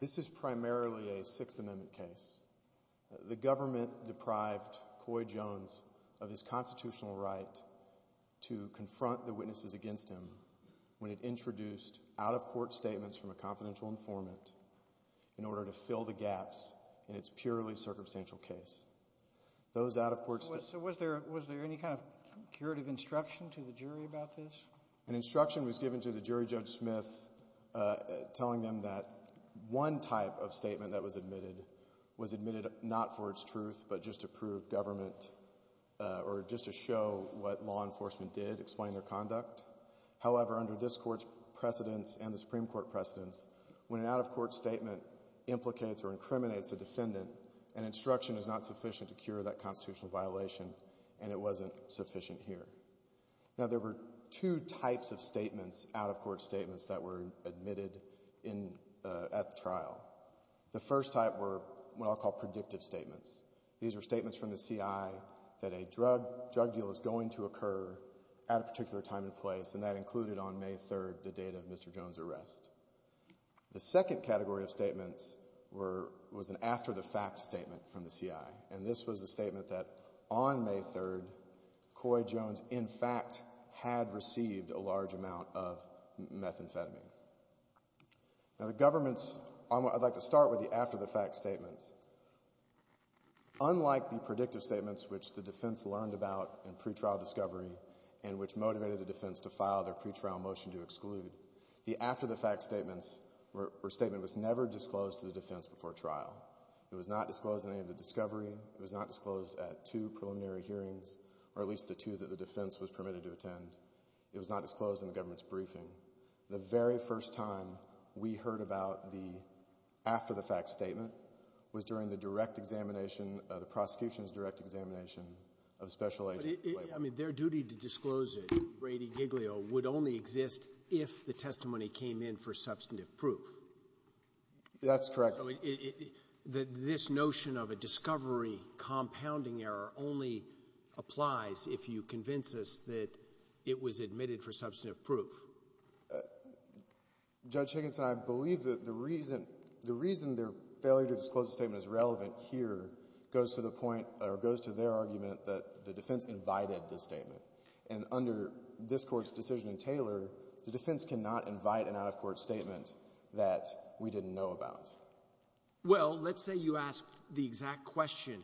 This is primarily a Sixth Amendment case. The government deprived Coy Jones of his constitutional right to confront the witnesses against him when it introduced out-of-court statements from a confidential informant in order to fill the gaps in its purely circumstantial case. Those out-of-court statements... So was there any kind of curative instruction to the jury about this? An instruction was given to the jury, Judge Smith, telling them that one type of statement that was admitted was admitted not for its truth, but just to prove government, or just to show what law enforcement did, explaining their conduct. However, under this Court's precedence and the Supreme Court precedence, when an out-of-court statement implicates or incriminates a defendant, an instruction is not sufficient to cure that constitutional violation, and it wasn't sufficient here. Now, there were two types of statements, out-of-court statements, that were admitted at the trial. The first type were what I'll call predictive statements. These are statements from the CI that a drug deal is going to occur at a particular time and place, and that included, on May 3rd, the date of Mr. Jones' arrest. The second category of statements was an after-the-fact statement from the CI, and this was a statement that on May 3rd, Coy Jones, in fact, had received a large amount of methamphetamine. Now, the government's... I'd like to start with the after-the-fact statements. Unlike the predictive statements, which the defense learned about in pretrial discovery and which motivated the defense to file their pretrial motion to exclude, the after-the-fact statements were a statement that was never disclosed to the defense before trial. It was not disclosed in any of the discovery. It was not disclosed at two preliminary hearings, or at least the two that the defense was permitted to attend. It was not disclosed in the government's briefing. The very first time we heard about the after-the-fact statement was during the direct examination, the prosecution's direct examination of special agent... But it... I mean, their duty to disclose it, Brady Giglio, would only exist if the testimony came in for substantive proof. That's correct. I mean, this notion of a discovery compounding error only applies if you convince us that it was admitted for substantive proof. Judge Higginson, I believe that the reason their failure to disclose the statement is And under this Court's decision in Taylor, the defense cannot invite an out-of-court statement that we didn't know about. Well, let's say you asked the exact question,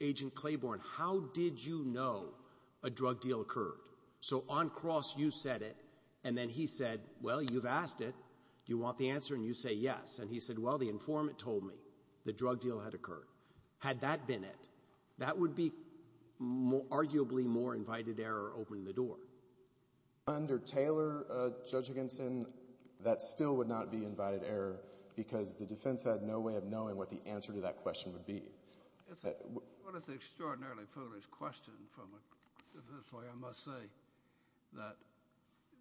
Agent Claiborne, how did you know a drug deal occurred? So, on cross, you said it, and then he said, well, you've asked it. Do you want the answer? And you say yes. And he said, well, the informant told me the drug deal had occurred. Had that been it? That would be arguably more invited error opening the door. Under Taylor, Judge Higginson, that still would not be invited error, because the defense had no way of knowing what the answer to that question would be. It's an extraordinarily foolish question from a defense lawyer, I must say, that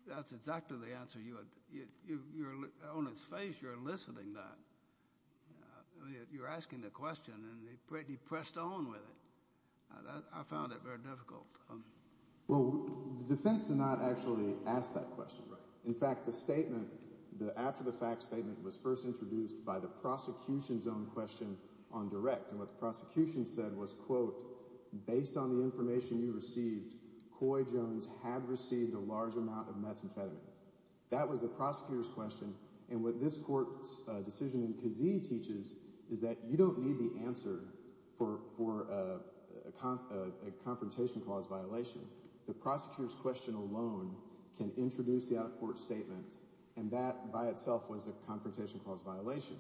that's exactly the answer you had... On its face, you're eliciting that. You're asking the question, and he pressed on with it. I found it very difficult. Well, the defense did not actually ask that question. In fact, the statement, the after-the-fact statement, was first introduced by the prosecution's own question on direct. And what the prosecution said was, quote, based on the information you received, Coy Jones had received a large amount of methamphetamine. That was the prosecutor's question. And what this court's decision in Kazee teaches is that you don't need the answer for a confrontation clause violation. The prosecutor's question alone can introduce the out-of-court statement, and that by itself was a confrontation clause violation.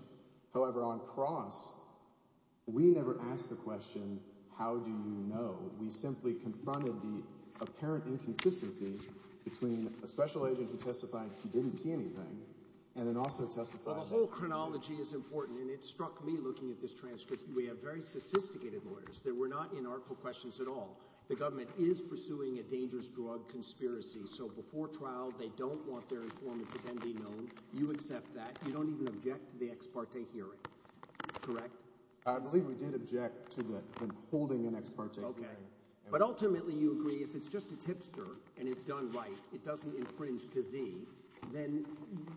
However, on Cross, we never asked the question, how do you know? We simply confronted the apparent inconsistency between a special agent who testified he didn't see anything, and then also testified... Well, the whole chronology is important, and it struck me looking at this transcript. We have very sophisticated lawyers that were not in artful questions at all. The government is pursuing a dangerous drug conspiracy, so before trial, they don't want their informants again be known. You accept that. You don't even object to the ex parte hearing, correct? I believe we did object to the holding an ex parte hearing. But ultimately, you agree if it's just a tipster, and it's done right, it doesn't infringe Kazee, then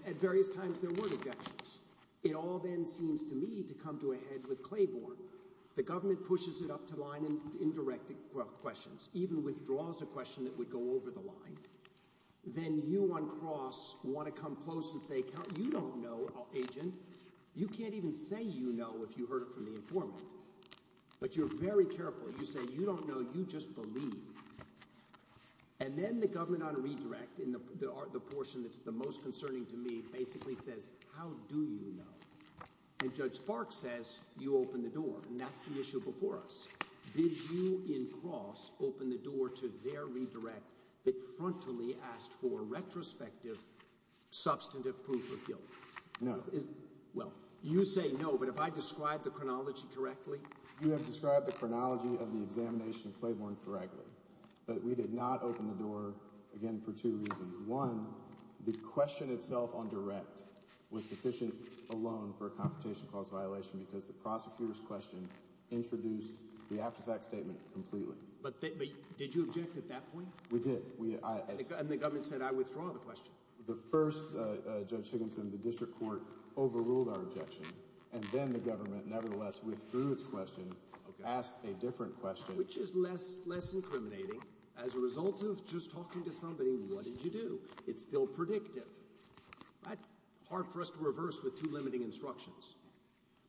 at various times, there were objections. It all then seems to me to come to a head with Claiborne. The government pushes it up to line and indirect questions, even withdraws a question that would go over the line. Then you on Cross want to come close and say, you don't know, agent. You can't even say you know if you heard it from the informant. But you're very careful. You say, you don't know, you just believe. And then the government on redirect, in the portion that's the most concerning to me, basically says, how do you know? And Judge Park says, you open the door, and that's the issue before us. Did you, in Cross, open the door to their redirect that frontally asked for retrospective substantive proof of guilt? No. Well, you say no, but have I described the chronology correctly? You have described the chronology of the examination of Claiborne correctly, but we did not open the door, again, for two reasons. One, the question itself on direct was sufficient alone for a confrontation cause violation because the prosecutor's question introduced the after fact statement completely. But did you object at that point? We did. And the government said, I withdraw the question. The first, Judge Higginson, the district court overruled our objection, and then the government, nevertheless, withdrew its question, asked a different question. Which is less incriminating as a result of just talking to somebody, what did you do? It's still predictive. That's hard for us to reverse with two limiting instructions.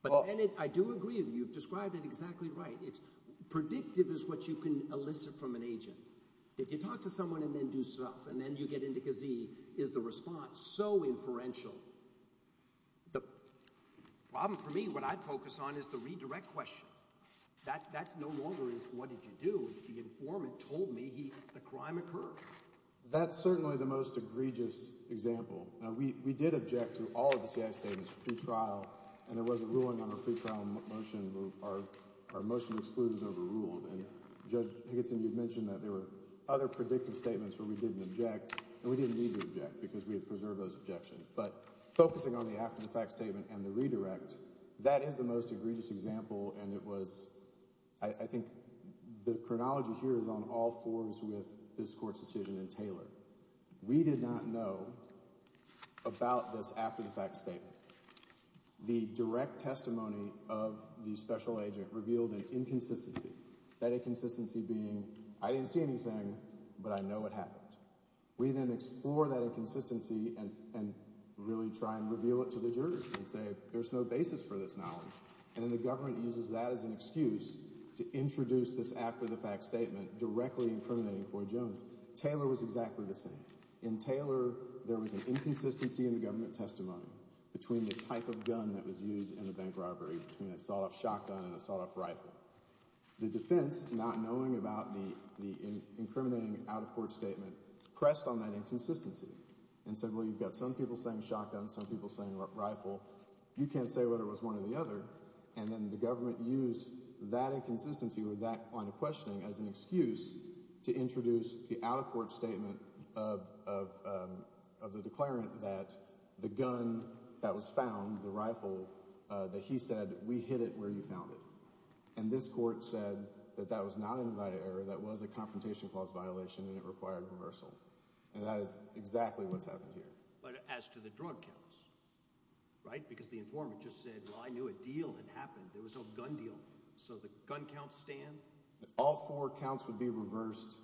But I do agree with you, you've described it exactly right. Predictive is what you can elicit from an agent. If you talk to someone and then do stuff, and then you get into Kazee, is the response so inferential? The problem for me, what I'd focus on, is the redirect question. That no longer is what did you do, it's the informant told me the crime occurred. That's certainly the most egregious example. We did object to all of the CIA statements, pretrial, and there was a ruling on a pretrial motion, our motion excludes overruled, and Judge Higginson, you've mentioned that there were other predictive statements where we didn't object, and we didn't need to object because we had preserved those objections. But focusing on the after the fact statement and the redirect, that is the most egregious example and it was, I think the chronology here is on all forms with this court's decision in Taylor. We did not know about this after the fact statement. The direct testimony of the special agent revealed an inconsistency. That inconsistency being, I didn't see anything, but I know what happened. We then explore that inconsistency and really try and reveal it to the jury and say, there's no basis for this knowledge, and then the government uses that as an excuse to introduce this after the fact statement directly incriminating Floyd Jones. Taylor was exactly the same. In Taylor, there was an inconsistency in the government testimony between the type of gun that was used in the bank robbery, between an assault shotgun and an assault rifle. The defense, not knowing about the incriminating out-of-court statement, pressed on that inconsistency and said, well, you've got some people saying shotgun, some people saying rifle. You can't say whether it was one or the other. And then the government used that inconsistency with that kind of questioning as an excuse to introduce the out-of-court statement of the declarant that the gun that was found, the rifle, that he said, we hid it where you found it. And this court said that that was not an invited error, that was a confrontation clause violation and it required reversal. And that is exactly what's happened here. But as to the drug counts, right? Because the informant just said, well, I knew a deal had happened, there was no gun deal. So the gun counts stand? All four counts would be reversed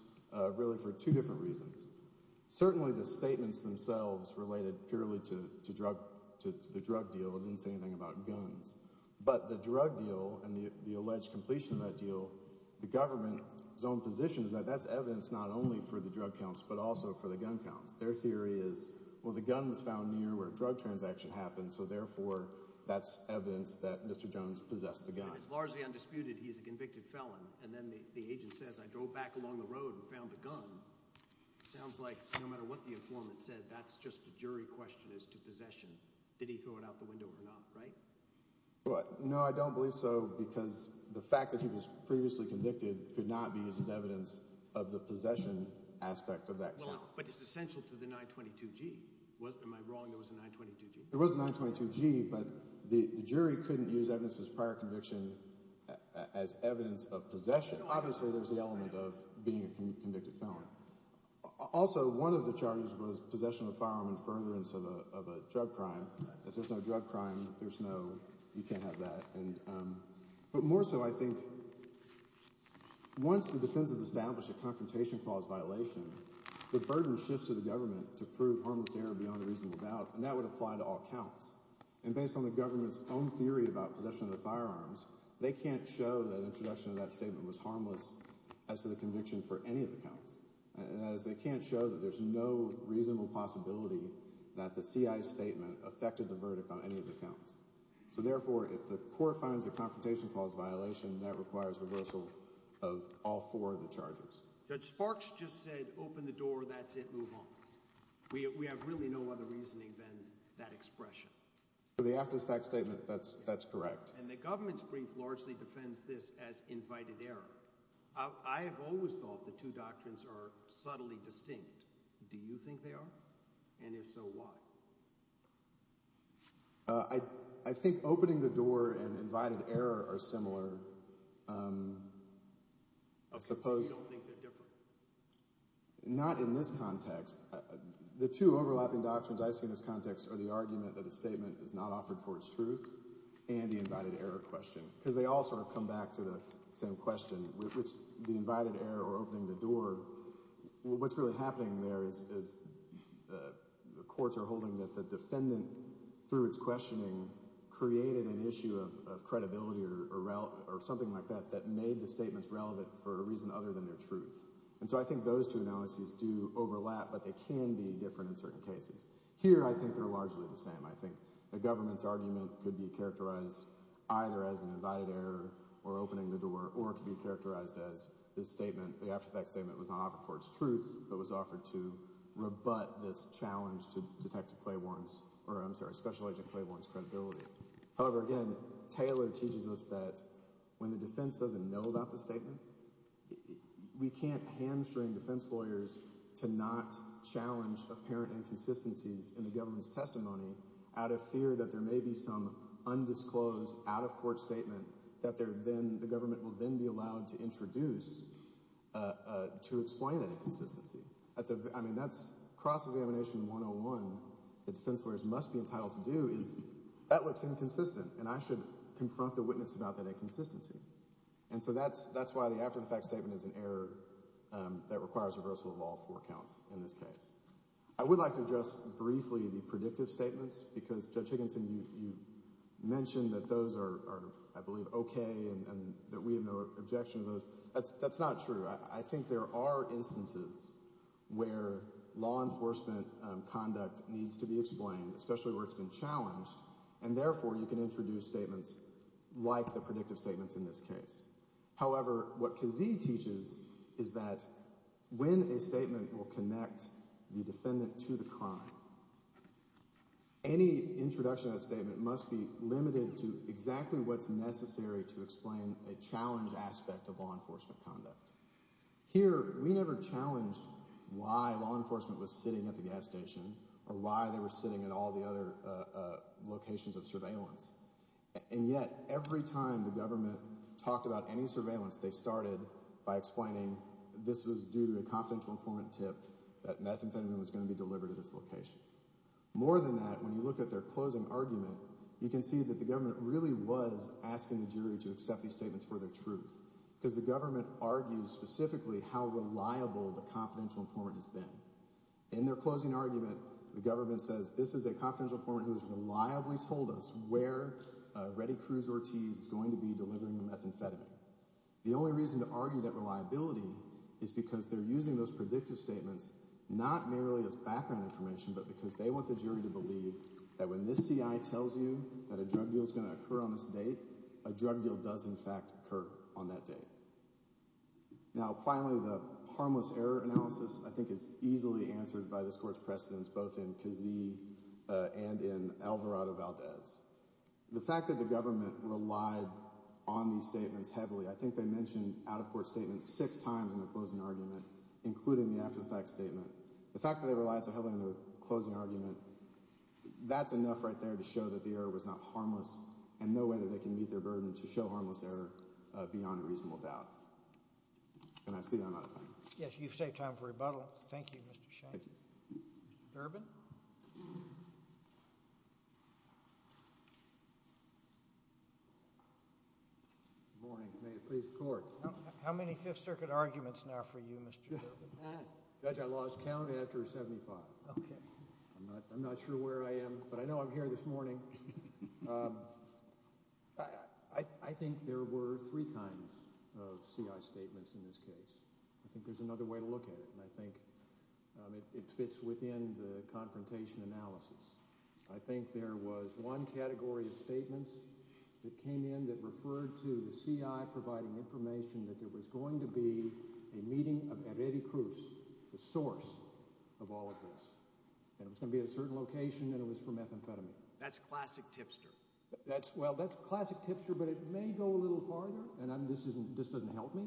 really for two different reasons. Certainly the statements themselves related purely to the drug deal and didn't say anything about guns. But the drug deal and the alleged completion of that deal, the government's own position is that that's evidence not only for the drug counts, but also for the gun counts. Their theory is, well, the gun was found near where a drug transaction happened, so therefore that's evidence that Mr. Jones possessed the gun. And it's largely undisputed he's a convicted felon. And then the agent says, I drove back along the road and found the gun. Sounds like no matter what the informant said, that's just a jury question as to possession. Did he throw it out the window or not, right? No, I don't believe so, because the fact that he was previously convicted could not be used as evidence of the possession aspect of that count. But it's essential to the 922G. Am I wrong? There was a 922G? There was a 922G, but the jury couldn't use evidence of his prior conviction as evidence of possession. Obviously, there's the element of being a convicted felon. Also, one of the charges was possession of a firearm and furtherance of a drug crime. If there's no drug crime, you can't have that. But more so, I think, once the defense has established a confrontation clause violation, the burden shifts to the government to prove harmless error beyond a reasonable doubt, and that would apply to all counts. And based on the government's own theory about possession of the firearms, they can't show that introduction of that statement was harmless as to the conviction for any of the counts. That is, they can't show that there's no reasonable possibility that the CI's statement affected the verdict on any of the counts. So therefore, if the court finds the confrontation clause violation, that requires reversal of all four of the charges. Judge Sparks just said, open the door, that's it, move on. We have really no other reasoning than that expression. The after-the-fact statement, that's correct. And the government's brief largely defends this as invited error. I have always thought the two doctrines are subtly distinct. Do you think they are? And if so, why? I think opening the door and invited error are similar. Okay, so you don't think they're different? Not in this context. The two overlapping doctrines I see in this context are the argument that a statement is not offered for its truth and the invited error question. Because they all sort of come back to the same question, which the invited error or opening the door, what's really happening there is the courts are holding that the defendant, through its questioning, created an issue of credibility or something like that that made the statements relevant for a reason other than their truth. And so I think those two analyses do overlap, but they can be different in certain cases. Here I think they're largely the same. I think the government's argument could be characterized either as an invited error or opening the door, or it could be characterized as this statement, the after-the-fact statement was not offered for its truth, but was offered to rebut this challenge to Detective Clay Warren's, or I'm sorry, Special Agent Clay Warren's credibility. However, again, Taylor teaches us that when the defense doesn't know about the statement, we can't hamstring defense lawyers to not challenge apparent inconsistencies in the witness testimony out of fear that there may be some undisclosed, out-of-court statement that the government will then be allowed to introduce to explain that inconsistency. I mean, that's cross-examination 101 that defense lawyers must be entitled to do is that looks inconsistent, and I should confront the witness about that inconsistency. And so that's why the after-the-fact statement is an error that requires reversal of all four counts in this case. I would like to address briefly the predictive statements because, Judge Higginson, you mentioned that those are, I believe, okay and that we have no objection to those. That's not true. I think there are instances where law enforcement conduct needs to be explained, especially where it's been challenged, and therefore you can introduce statements like the predictive statements in this case. However, what Kazee teaches is that when a statement will connect the defendant to the crime, any introduction of that statement must be limited to exactly what's necessary to explain a challenged aspect of law enforcement conduct. Here, we never challenged why law enforcement was sitting at the gas station or why they And yet, every time the government talked about any surveillance, they started by explaining this was due to a confidential informant tip that methamphetamine was going to be delivered to this location. More than that, when you look at their closing argument, you can see that the government really was asking the jury to accept these statements for their truth because the government argues specifically how reliable the confidential informant has been. In their closing argument, the government says, this is a confidential informant who has reliably told us where Reddy Cruz-Ortiz is going to be delivering the methamphetamine. The only reason to argue that reliability is because they're using those predictive statements not merely as background information, but because they want the jury to believe that when this CI tells you that a drug deal is going to occur on this date, a drug deal does in fact occur on that date. Now, finally, the harmless error analysis, I think, is easily answered by this court's precedents, both in Kazee and in Alvarado-Valdez. The fact that the government relied on these statements heavily, I think they mentioned out-of-court statements six times in their closing argument, including the after-the-fact statement. The fact that they relied so heavily on their closing argument, that's enough right there to show that the error was not harmless, and no way that they can meet their burden to show harmless error beyond a reasonable doubt. Can I see the time out of time? Yes, you've saved time for rebuttal. Thank you, Mr. Shank. Mr. Durbin? Good morning. May it please the Court. How many Fifth Circuit arguments now for you, Mr. Durbin? Judge, I lost count after 75. Okay. I'm not sure where I am, but I know I'm here this morning. I think there were three kinds of CI statements in this case. I think there's another way to look at it, and I think it fits within the confrontation analysis. I think there was one category of statements that came in that referred to the CI providing information that there was going to be a meeting of Eredy Cruz, the source of all of this, and it was going to be at a certain location, and it was for methamphetamine. That's classic tipster. Well, that's classic tipster, but it may go a little farther, and this doesn't help me,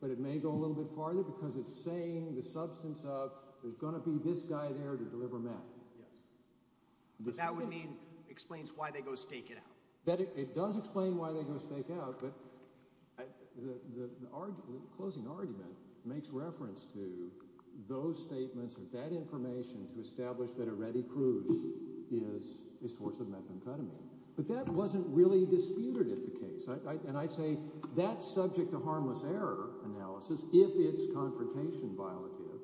but it may go a little bit farther because it's saying the substance of, there's going to be this guy there to deliver meth. Yes. That would mean, explains why they go stake it out. It does explain why they go stake out, but the closing argument makes reference to those statements or that information to establish that Eredy Cruz is a source of methamphetamine. But that wasn't really disputed at the case. And I say that's subject to harmless error analysis if it's confrontation violative.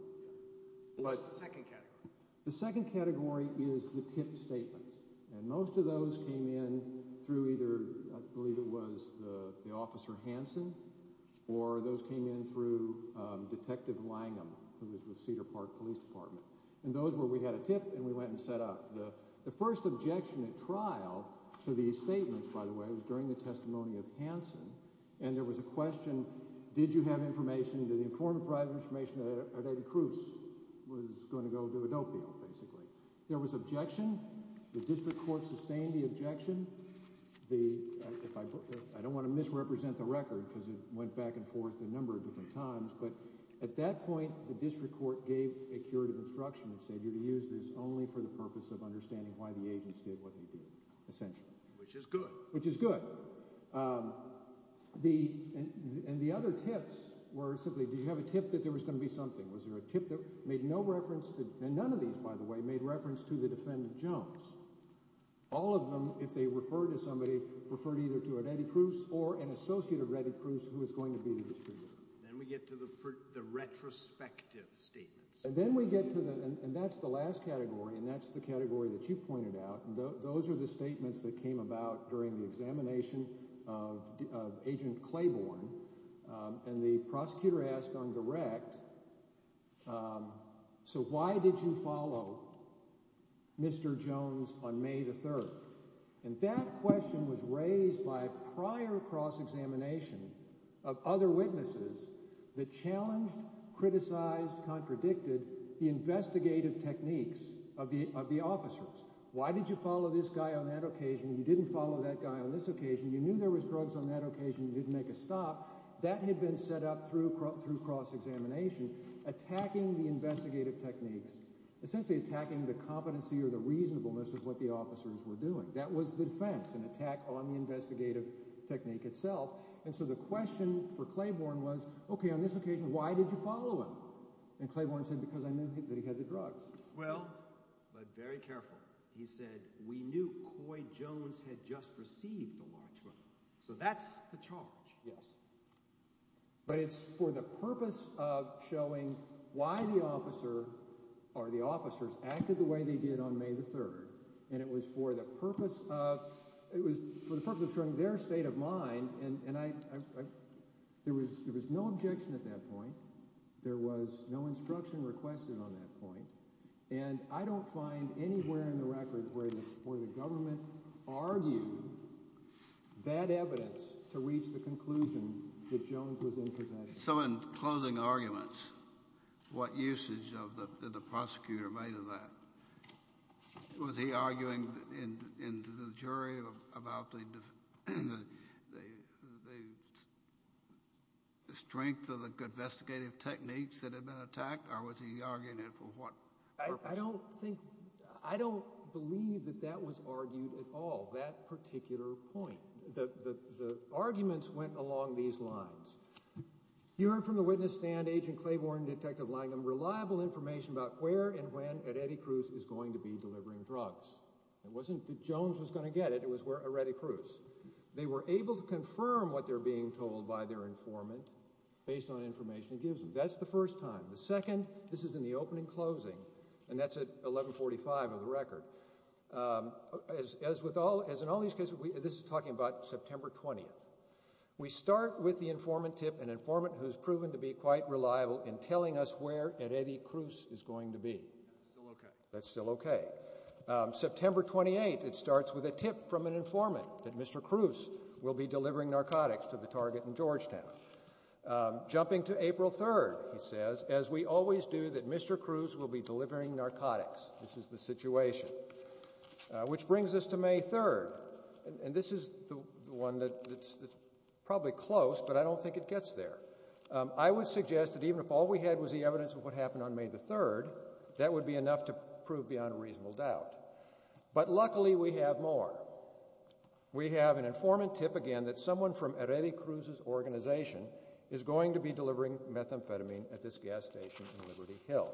What's the second category? The second category is the tip statements, and most of those came in through either, I believe it was the Officer Hanson, or those came in through Detective Langham, who was with Cedar Park Police Department. And those were, we had a tip, and we went and set up. The first objection at trial to these statements, by the way, was during the testimony of Hanson, and there was a question, did you have information, did you inform private information that Eredy Cruz was going to go do a dope deal, basically. There was objection. The district court sustained the objection. The, I don't want to misrepresent the record because it went back and forth a number of different times, but at that point, the district court gave a curative instruction and said use this only for the purpose of understanding why the agents did what they did, essentially. Which is good. Which is good. The, and the other tips were simply, did you have a tip that there was going to be something? Was there a tip that made no reference to, and none of these, by the way, made reference to the defendant Jones. All of them, if they referred to somebody, referred either to Eredy Cruz or an associate of Eredy Cruz who was going to be the distributor. Then we get to the retrospective statements. And then we get to the, and that's the last category, and that's the category that you pointed out, and those are the statements that came about during the examination of Agent Claiborne, and the prosecutor asked on direct, so why did you follow Mr. Jones on May the 3rd? And that question was raised by a prior cross-examination of other witnesses that challenged, criticized, contradicted the investigative techniques of the officers. Why did you follow this guy on that occasion? You didn't follow that guy on this occasion. You knew there was drugs on that occasion. You didn't make a stop. That had been set up through cross-examination, attacking the investigative techniques, essentially attacking the competency or the reasonableness of what the officers were doing. That was the defense, an attack on the investigative technique itself. And so the question for Claiborne was, okay, on this occasion, why did you follow him? And Claiborne said, because I knew that he had the drugs. Well, but very careful. He said, we knew Coy Jones had just received the large one. So that's the charge. Yes. But it's for the purpose of showing why the officer, or the officers, acted the way they did on May the 3rd, and it was for the purpose of, it was for the purpose of showing their state of mind, and I, there was no objection at that point. There was no instruction requested on that point. And I don't find anywhere in the record where the government argued that evidence to reach the conclusion that Jones was in possession. So in closing arguments, what usage of the prosecutor made of that? Was he arguing in the jury about the strength of the investigative techniques that had been attacked, or was he arguing it for what purpose? I don't think, I don't believe that that was argued at all, that particular point. The arguments went along these lines. You heard from the witness stand, Agent Claiborne, Detective Langham, reliable information about where and when Eredy Cruz is going to be delivering drugs. It wasn't that Jones was going to get it, it was Eredy Cruz. They were able to confirm what they're being told by their informant, based on information he gives them. That's the first time. The second, this is in the opening closing, and that's at 1145 of the record. As with all, as in all these cases, this is talking about September 20th. We start with the informant tip, an informant who's proven to be quite reliable in telling us where Eredy Cruz is going to be. That's still okay. September 28th, it starts with a tip from an informant that Mr. Cruz will be delivering narcotics to the target in Georgetown. Jumping to April 3rd, he says, as we always do, that Mr. Cruz will be delivering narcotics. This is the situation. Which brings us to May 3rd, and this is the one that's probably close, but I don't think it gets there. I would suggest that even if all we had was the evidence of what happened on May 3rd, that would be enough to prove beyond a reasonable doubt. But luckily, we have more. We have an informant tip again that someone from Eredy Cruz's organization is going to be delivering methamphetamine at this gas station in Liberty Hill.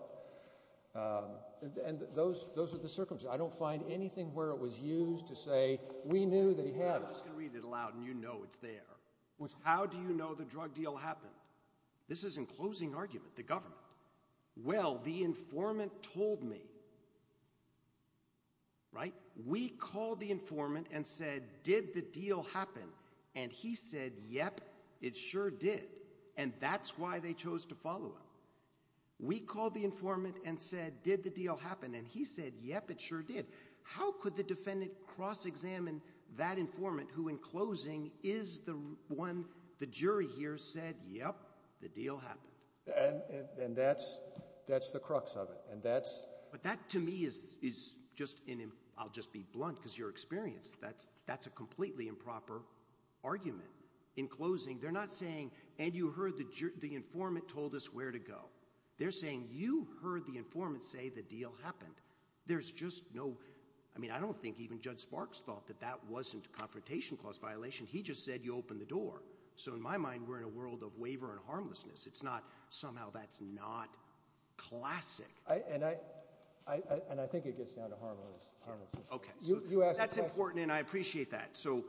And those are the circumstances. I don't find anything where it was used to say, we knew that he had it. I'm just going to read it aloud, and you know it's there. How do you know the drug deal happened? This is in closing argument, the government. Well, the informant told me, right? We called the informant and said, did the deal happen? And he said, yep, it sure did. And that's why they chose to follow him. We called the informant and said, did the deal happen? And he said, yep, it sure did. How could the defendant cross-examine that informant who, in closing, is the one, the jury here said, yep, the deal happened? And that's the crux of it. But that, to me, is just, I'll just be blunt, because your experience, that's a completely improper argument. In closing, they're not saying, and you heard the informant told us where to go. They're saying, you heard the informant say the deal happened. There's just no, I mean, I don't think even Judge Sparks thought that that wasn't a confrontation clause violation. He just said, you open the door. So in my mind, we're in a world of waiver and harmlessness. It's not, somehow that's not classic. And I think it gets down to harmless. Okay. That's important, and I appreciate that. So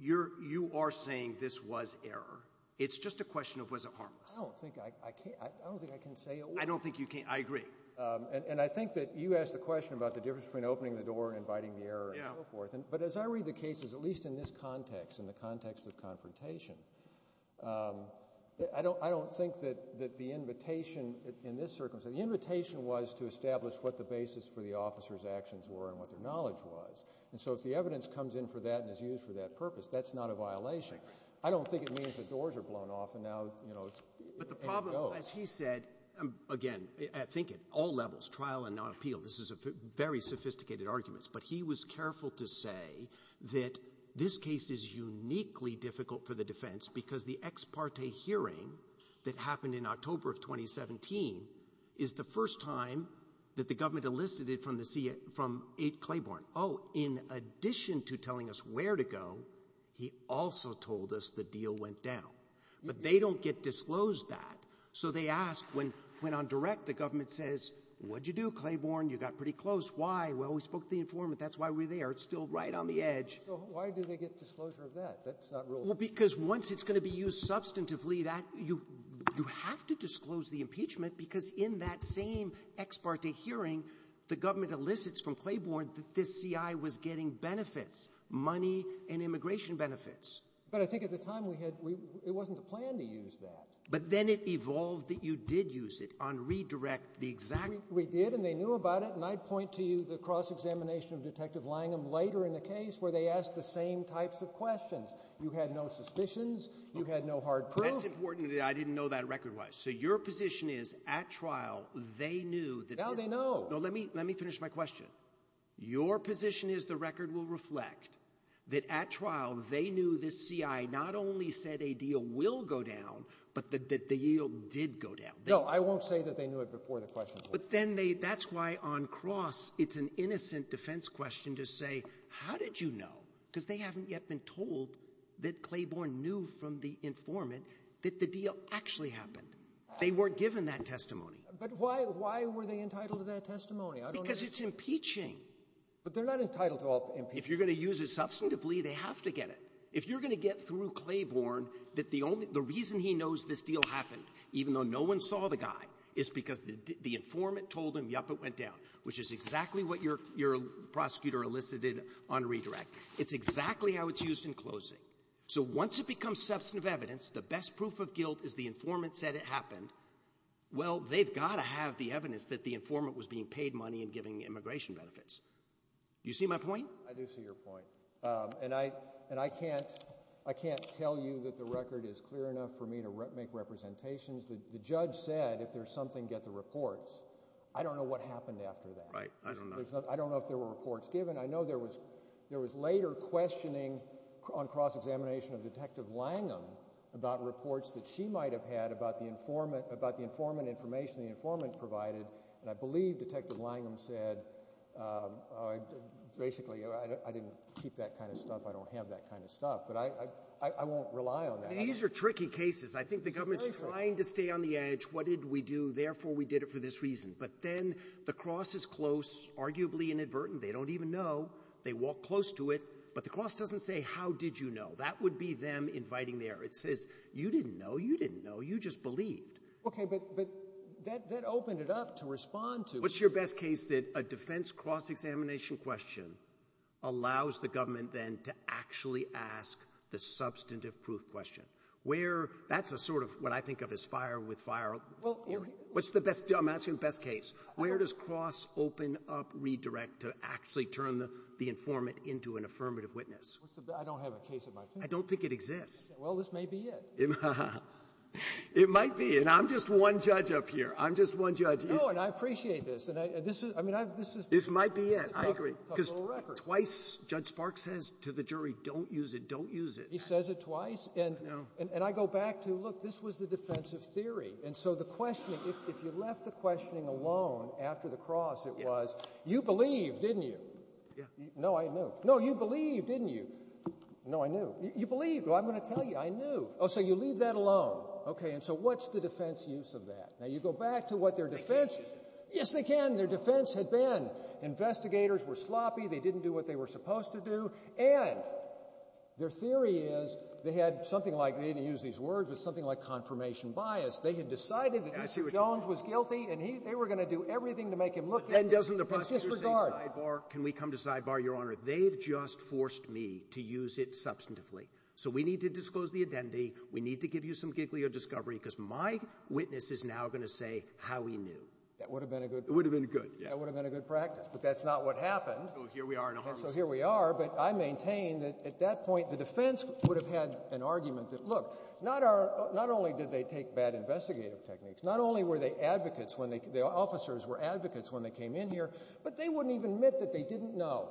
you are saying this was error. It's just a question of, was it harmless? I don't think I can say a word. I don't think you can, I agree. And I think that you asked a question about the difference between opening the door and inviting the error and so forth. But as I read the cases, at least in this context, in the context of confrontation, I don't think that the invitation in this circumstance, the invitation was to establish what the basis for the officer's actions were and what their knowledge was. And so if the evidence comes in for that and is used for that purpose, that's not a violation. I don't think it means the doors are blown off and now, you know, it's ready to go. But the problem, as he said, again, I think at all levels, trial and non-appeal, this is a very sophisticated argument, but he was careful to say that this case is uniquely difficult for the defense because the ex parte hearing that happened in October of 2017 is the first time that the government elicited from A.C. Claiborne, oh, in addition to telling us where to go, he also told us the deal went down. But they don't get disclosed that. So they ask when on direct, the government says, what did you do, Claiborne? You got pretty close. Why? Well, we spoke to the informant. That's why we're there. It's still right on the edge. So why do they get disclosure of that? That's not really... Well, because once it's going to be used substantively, you have to disclose the impeachment because in that same ex parte hearing, the government elicits from Claiborne that this C.I. was getting benefits, money and immigration benefits. But I think at the time, it wasn't the plan to use that. But then it evolved that you did use it on redirect the exact... We did and they knew about it. And I'd point to you the cross-examination of Detective Langham later in the case where they asked the same types of questions. You had no suspicions. You had no hard proof. That's important. I didn't know that record wise. So your position is at trial, they knew that... Now they know. No, let me finish my question. Your position is the record will reflect that at trial, they knew this C.I. not only said a deal will go down, but that the deal did go down. No, I won't say that they knew it before the questions were... But then they... That's why on cross, it's an innocent defense question to say, how did you know? Because they haven't yet been told that Claiborne knew from the informant that the deal actually happened. They weren't given that testimony. But why were they entitled to that testimony? Because it's impeaching. But they're not entitled to all impeachment. If you're going to use it substantively, they have to get it. If you're going to get through Claiborne, that the reason he knows this deal happened, even though no one saw the guy, is because the informant told him, yup, it went down, which is exactly what your prosecutor elicited on redirect. It's exactly how it's used in closing. So once it becomes substantive evidence, the best proof of guilt is the informant said it happened. Well, they've got to have the evidence that the informant was being paid money and giving immigration benefits. Do you see my point? I do see your point. And I can't tell you that the record is clear enough for me to make representations. The judge said, if there's something, get the reports. I don't know what happened after that. Right, I don't know. I don't know if there were reports given. I know there was later questioning on cross-examination of Detective Langham about reports that she might have had about the informant information the informant provided. And I believe Detective Langham said, basically, I didn't keep that kind of stuff. I don't have that kind of stuff. But I won't rely on that. These are tricky cases. I think the government's trying to stay on the edge. What did we do? Therefore, we did it for this reason. But then the cross is close, arguably inadvertent. They don't even know. They walk close to it. But the cross doesn't say, how did you know? That would be them inviting there. It says, you didn't know. You didn't know. You just believed. Okay. But that opened it up to respond to. What's your best case that a defense cross-examination question allows the government, then, to actually ask the substantive proof question? That's a sort of what I think of as fire with fire. What's the best case? I'm asking the best case. Where does cross open up, redirect, to actually turn the informant into an affirmative witness? I don't have a case in mind. I don't think it exists. Well, this may be it. It might be. And I'm just one judge up here. I'm just one judge. No, and I appreciate this. This might be it. I agree. Because twice, Judge Sparks says to the jury, don't use it, don't use it. He says it twice. And I go back to, look, this was the defensive theory. And so the questioning, if you left the questioning alone after the cross, it was, you believed, didn't you? No, I knew. No, you believed, didn't you? No, I knew. You believed. Well, I'm going to tell you, I knew. Oh, so you leave that alone. Okay, and so what's the defense use of that? Now, you go back to what their defense is. Yes, they can. Their defense had been investigators were sloppy. They didn't do what they were supposed to do. And their theory is they had something like, they didn't use these words, but something like confirmation bias. They had decided that Mr. Jones was guilty and they were going to do everything to make him look good. But then doesn't the prosecutor say sidebar? Can we come to sidebar, Your Honor? They've just forced me to use it substantively. So we need to disclose the identity. We need to give you some giggly of discovery because my witness is now going to say how he knew. That would have been a good practice. But that's not what happens. that at that point, the defense would have had an argument that, look, not only did they take bad investigative techniques, not only were they advocates, the officers were advocates when they came in here, but they wouldn't even admit that they didn't know.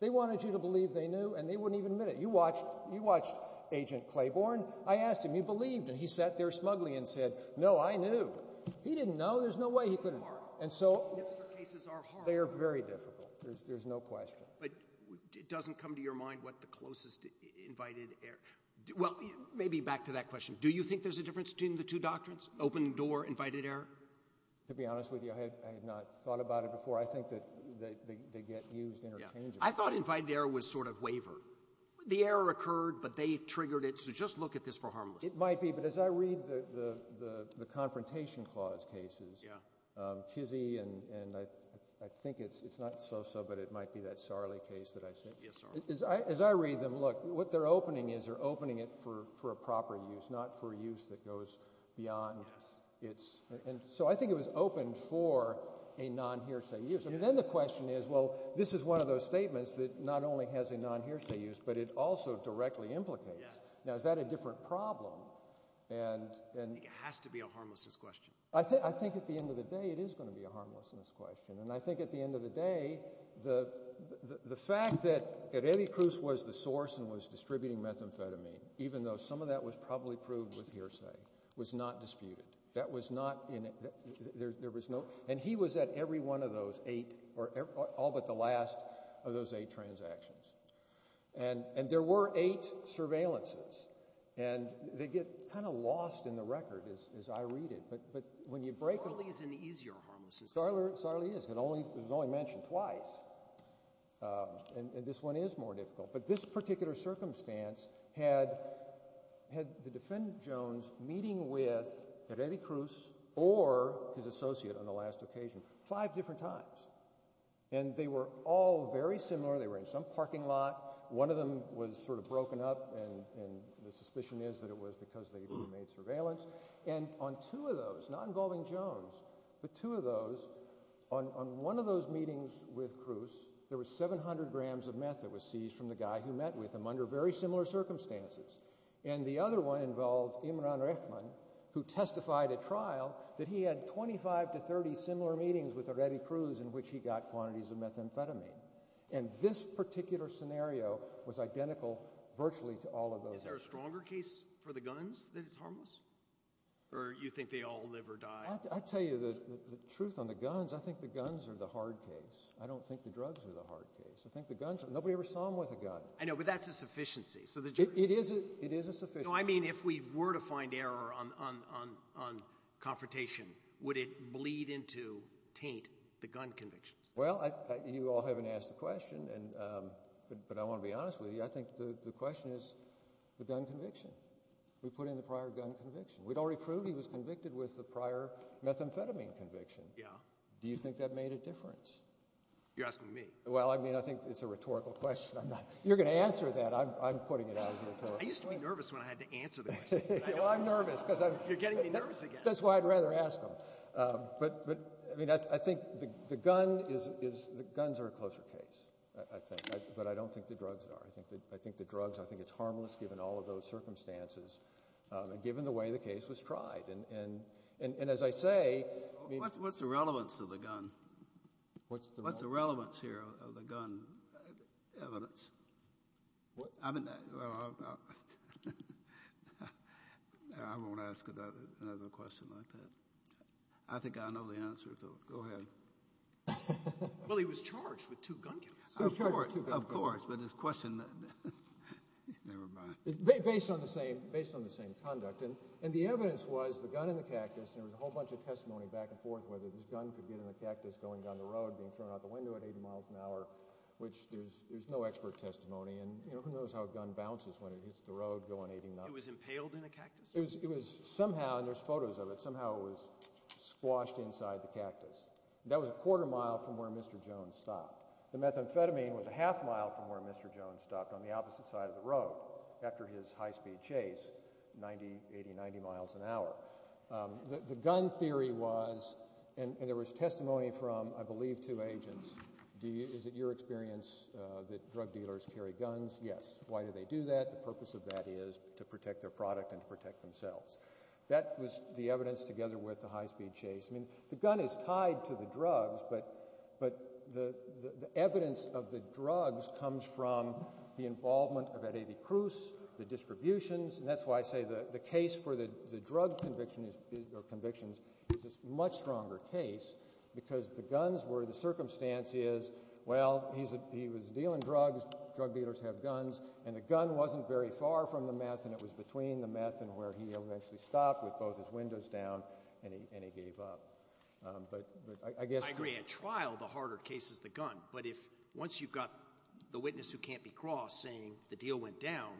They wanted you to believe they knew and they wouldn't even admit it. You watched Agent Claiborne. I asked him, you believed? And he sat there smugly and said, no, I knew. He didn't know. There's no way he couldn't. They are very difficult. There's no question. But it doesn't come to your mind what the closest invited error... Well, maybe back to that question. Do you think there's a difference between the two doctrines? Open door, invited error? To be honest with you, I had not thought about it before. I think that they get used interchangeably. I thought invited error was sort of waiver. The error occurred, but they triggered it. So just look at this for harmlessness. It might be, but as I read the confrontation clause cases, Chizzie, and I think it's not so, but it might be that Sarli case that I said. As I read them, look, what they're opening is they're opening it for a proper use, not for a use that goes beyond its... So I think it was open for a non-hearsay use. Then the question is, well, this is one of those statements that not only has a non-hearsay use, but it also directly implicates. Now, is that a different problem? It has to be a harmlessness question. I think at the end of the day, it is going to be a harmlessness question. I think at the end of the day, the fact that Redicruz was the source and was distributing methamphetamine, even though some of that was probably proved with hearsay, was not disputed. There was no... He was at every one of those all but the last of those eight transactions. There were eight surveillances. They get kind of lost in the record as I read it. Sarli is an easier harmlessness question. Sarli is. It was only mentioned twice. This one is more difficult. But this particular circumstance had the defendant, Jones, meeting with Redicruz or his associate on the last occasion five different times. They were all very similar. They were in some parking lot. One of them was sort of broken up and the suspicion is that it was because they made surveillance. On two of those, not involving Jones, but two of those, on one of those meetings with Cruz, there was 700 grams of meth that was seized from the guy who met with him under very similar circumstances. The other one involved Imran Rehman, who testified at trial that he had 25 to 30 similar meetings with Redicruz in which he got quantities of methamphetamine. This particular scenario was identical virtually to all of those. Is there a stronger case for the guns that it's harmless? Or do you think they all live or die? I'll tell you the truth on the guns. I think the guns are the hard case. I don't think the drugs are the hard case. Nobody ever saw them with a gun. I know, but that's a sufficiency. It is a sufficiency. If we were to find error on confrontation, would it bleed into, taint the gun convictions? Well, you all haven't asked the question, but I want to be honest with you. I think the question is the gun conviction. We put in the prior gun conviction. We'd already proved he was convicted with the prior methamphetamine conviction. Do you think that made a difference? You're asking me. Well, I think it's a rhetorical question. You're going to answer that. I'm putting it out as a rhetorical question. I used to be nervous when I had to answer the question. You're getting me nervous again. That's why I'd rather ask him. I think the guns are a closer case, but I don't think the drugs are. I think the drugs, I think it's harmless given all of those circumstances and given the way the case was tried. As I say... What's the relevance of the gun? What's the relevance here of the gun evidence? I won't ask another question like that. I think I know the answer, so go ahead. Well, he was charged with two gun kills. Of course, but this question... Never mind. Based on the same conduct, and the evidence was the gun in the cactus and there was a whole bunch of testimony back and forth whether this gun could get in the cactus going down the road being thrown out the window at 80 miles an hour, which there's no expert testimony and who knows how a gun bounces when it hits the road going 80 miles an hour. It was impaled in a cactus? Somehow, and there's photos of it, but somehow it was squashed inside the cactus. That was a quarter mile from where Mr. Jones stopped. The methamphetamine was a half mile from where Mr. Jones stopped on the opposite side of the road after his high-speed chase 90, 80, 90 miles an hour. The gun theory was and there was testimony from, I believe, two agents. Is it your experience that drug dealers carry guns? Yes. Why do they do that? The purpose of that is to protect their product and to protect themselves. That was the evidence together with the high-speed chase. The gun is tied to the drugs, but the evidence of the drugs comes from the involvement of Eddie Cruz, the distributions and that's why I say the case for the drug convictions is a much stronger case because the guns where the circumstance is he was dealing drugs, drug dealers have guns, and the gun wasn't very far from the meth and it was between the meth and where he eventually stopped with both his windows down and he gave up. I agree. At trial, the harder case is the gun, but once you've got the witness who can't be crossed saying the deal went down,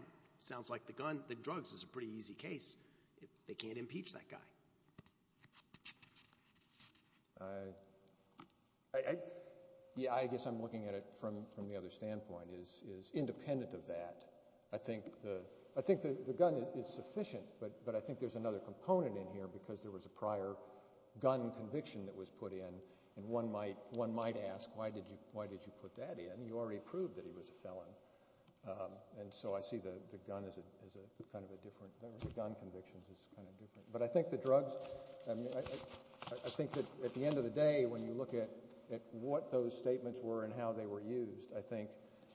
sounds like the drugs is a pretty easy case. They can't impeach that guy. I guess I'm looking at it from the other standpoint is independent of that. I think the gun is sufficient, but I think there's another component in here because there was a prior gun conviction that was put in and one might ask why did you put that in? You already proved that he was a felon. I see the gun convictions as kind of different. I think at the end of the day when you look at what those statements were and how they were used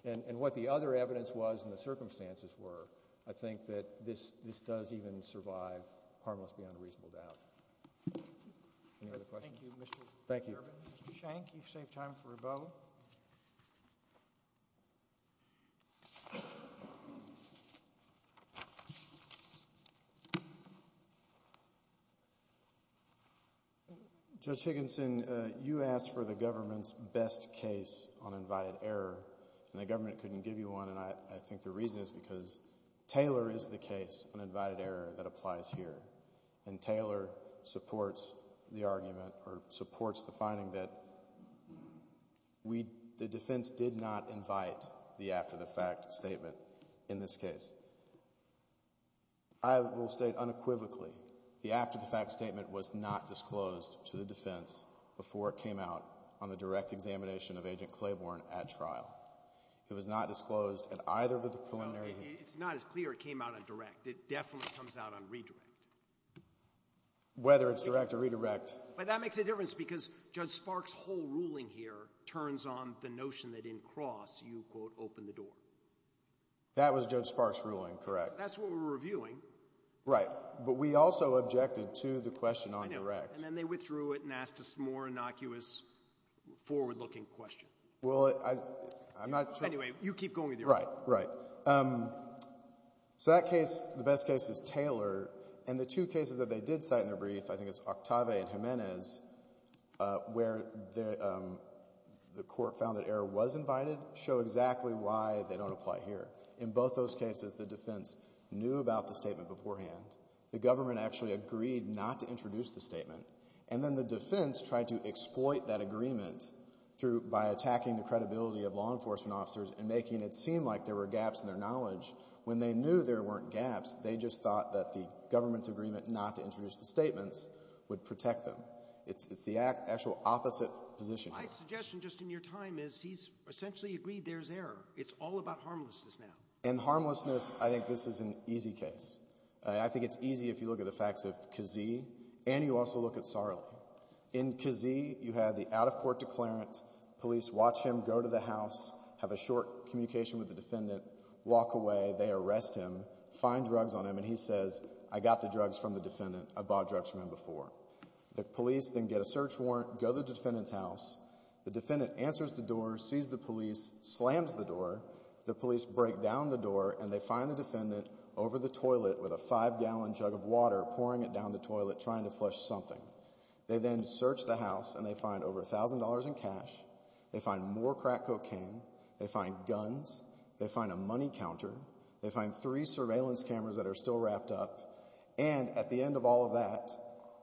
and what the other evidence was and the circumstances were, I think that this does even survive harmless beyond a reasonable doubt. Any other questions? Thank you. Thank you. Judge Higginson, you asked for the government's best case on invited error and the government couldn't give you one and I think the reason is because Taylor is the case on invited error that applies here and Taylor supports the argument or supports the finding that the defense did not invite the after the fact statement in this case. I will state unequivocally the after the fact statement was not disclosed to the defense before it came out on the direct examination of Agent Claiborne at trial. It was not disclosed at either of the preliminary hearings. It's not as clear it came out on direct. It definitely comes out on redirect. Whether it's direct or redirect. But that makes a difference because Judge Sparks' whole ruling here turns on the notion that in cross you quote open the door. That was Judge Sparks' ruling, correct. That's what we're reviewing. Right, but we also objected to the question on direct. And then they withdrew it and asked a more innocuous forward looking question. Well, I'm not sure. Anyway, you keep going with your argument. Right, right. So that case, the best case is Taylor. And the two cases that they did cite in their brief, I think it's Octave and Jimenez where the court found that error was invited show exactly why they don't apply here. In both those cases, the defense knew about the statement beforehand. The government actually agreed not to introduce the statement. And then the defense tried to exploit that agreement by attacking the credibility of law enforcement officers and making it seem like there were gaps in their knowledge. When they knew there weren't gaps, they just thought that the government's agreement not to introduce the statements would protect them. It's the actual opposite position here. My suggestion just in your time is he's essentially agreed there's error. It's all about harmlessness now. In harmlessness, I think this is an easy case. I think it's easy if you look at the facts of Kazee and you also look at Sarli. In Kazee, you have the out of court declarant. Police watch him go to the house, have a short communication with the defendant, walk away. They arrest him, find drugs on him and he says, I got the drugs from the defendant. I bought drugs from him before. The police then get a search warrant, go to the defendant's house. The defendant answers the door, sees the police, slams the door. The police break down the door and they find the defendant over the toilet with a five gallon jug of water pouring it down the toilet trying to flush something. They then search the house and they find over $1,000 in cash, they find more crack cocaine, they find guns, they find a money counter, they find three surveillance cameras that are still wrapped up, and at the end of all of that,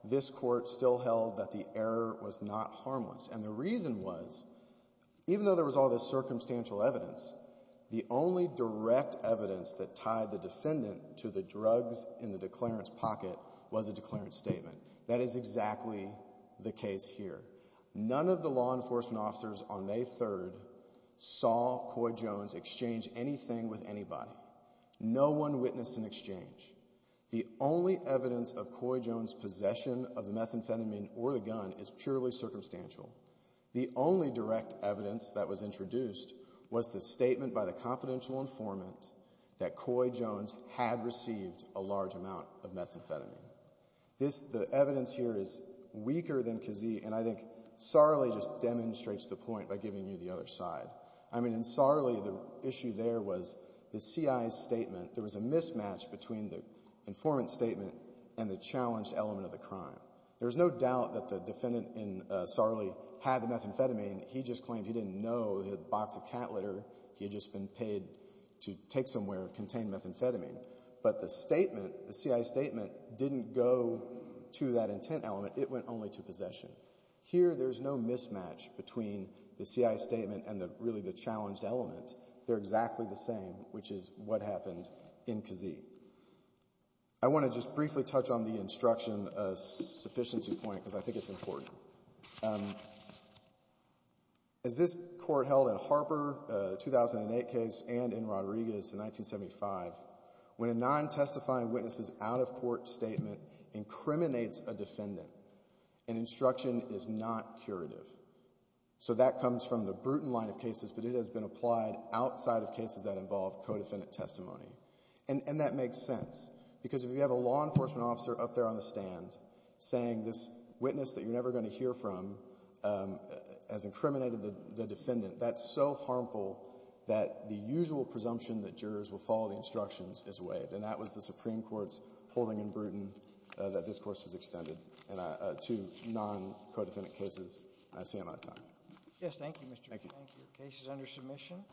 this court still held that the error was not harmless. And the reason was even though there was all this circumstantial evidence, the only direct evidence that tied the defendant to the drugs in the declarant's pocket was a declarant's statement. That is exactly the case here. None of the law enforcement officers on May 3rd saw Coy Jones exchange anything with anybody. No one witnessed an exchange. The only evidence of Coy Jones' possession of the methamphetamine or the gun is purely circumstantial. The only direct evidence that was introduced was the statement by the confidential informant that Coy Jones had received a large amount of methamphetamine. The evidence here is weaker than Kazee, and I think Sarli just demonstrates the point by giving you the other side. I mean, in Sarli, the issue there was the CI's statement. There was a mismatch between the informant's statement and the challenged element of the crime. There's no doubt that the defendant in Sarli had the methamphetamine. He just claimed he didn't know the box of cat litter he had just been paid to take somewhere contained methamphetamine. But the statement, the CI's statement, didn't go to that intent element. It went only to possession. Here, there's no mismatch between the CI's statement and really the challenged element. They're exactly the same, which is what happened in Kazee. I want to just briefly touch on the instruction sufficiency point, because I think it's important. As this court held in Harper, the 2008 case, and in Rodriguez in 1975, when a non-testifying witness's out-of-court statement incriminates a defendant, an instruction is not curative. That comes from the Bruton line of cases, but it has been applied outside of cases that involve co-defendant testimony. That makes sense, because if you have a law enforcement officer up there on the stand saying this witness that you're never going to hear from has incriminated the defendant, that's so harmful that the usual presumption that jurors will follow the instructions is waived, and that was the Supreme Court's holding in Bruton that this Court has extended to non-co-defendant cases. I see I'm out of time. Yes, thank you, Mr. Bruton. Thank you. The case is under submission.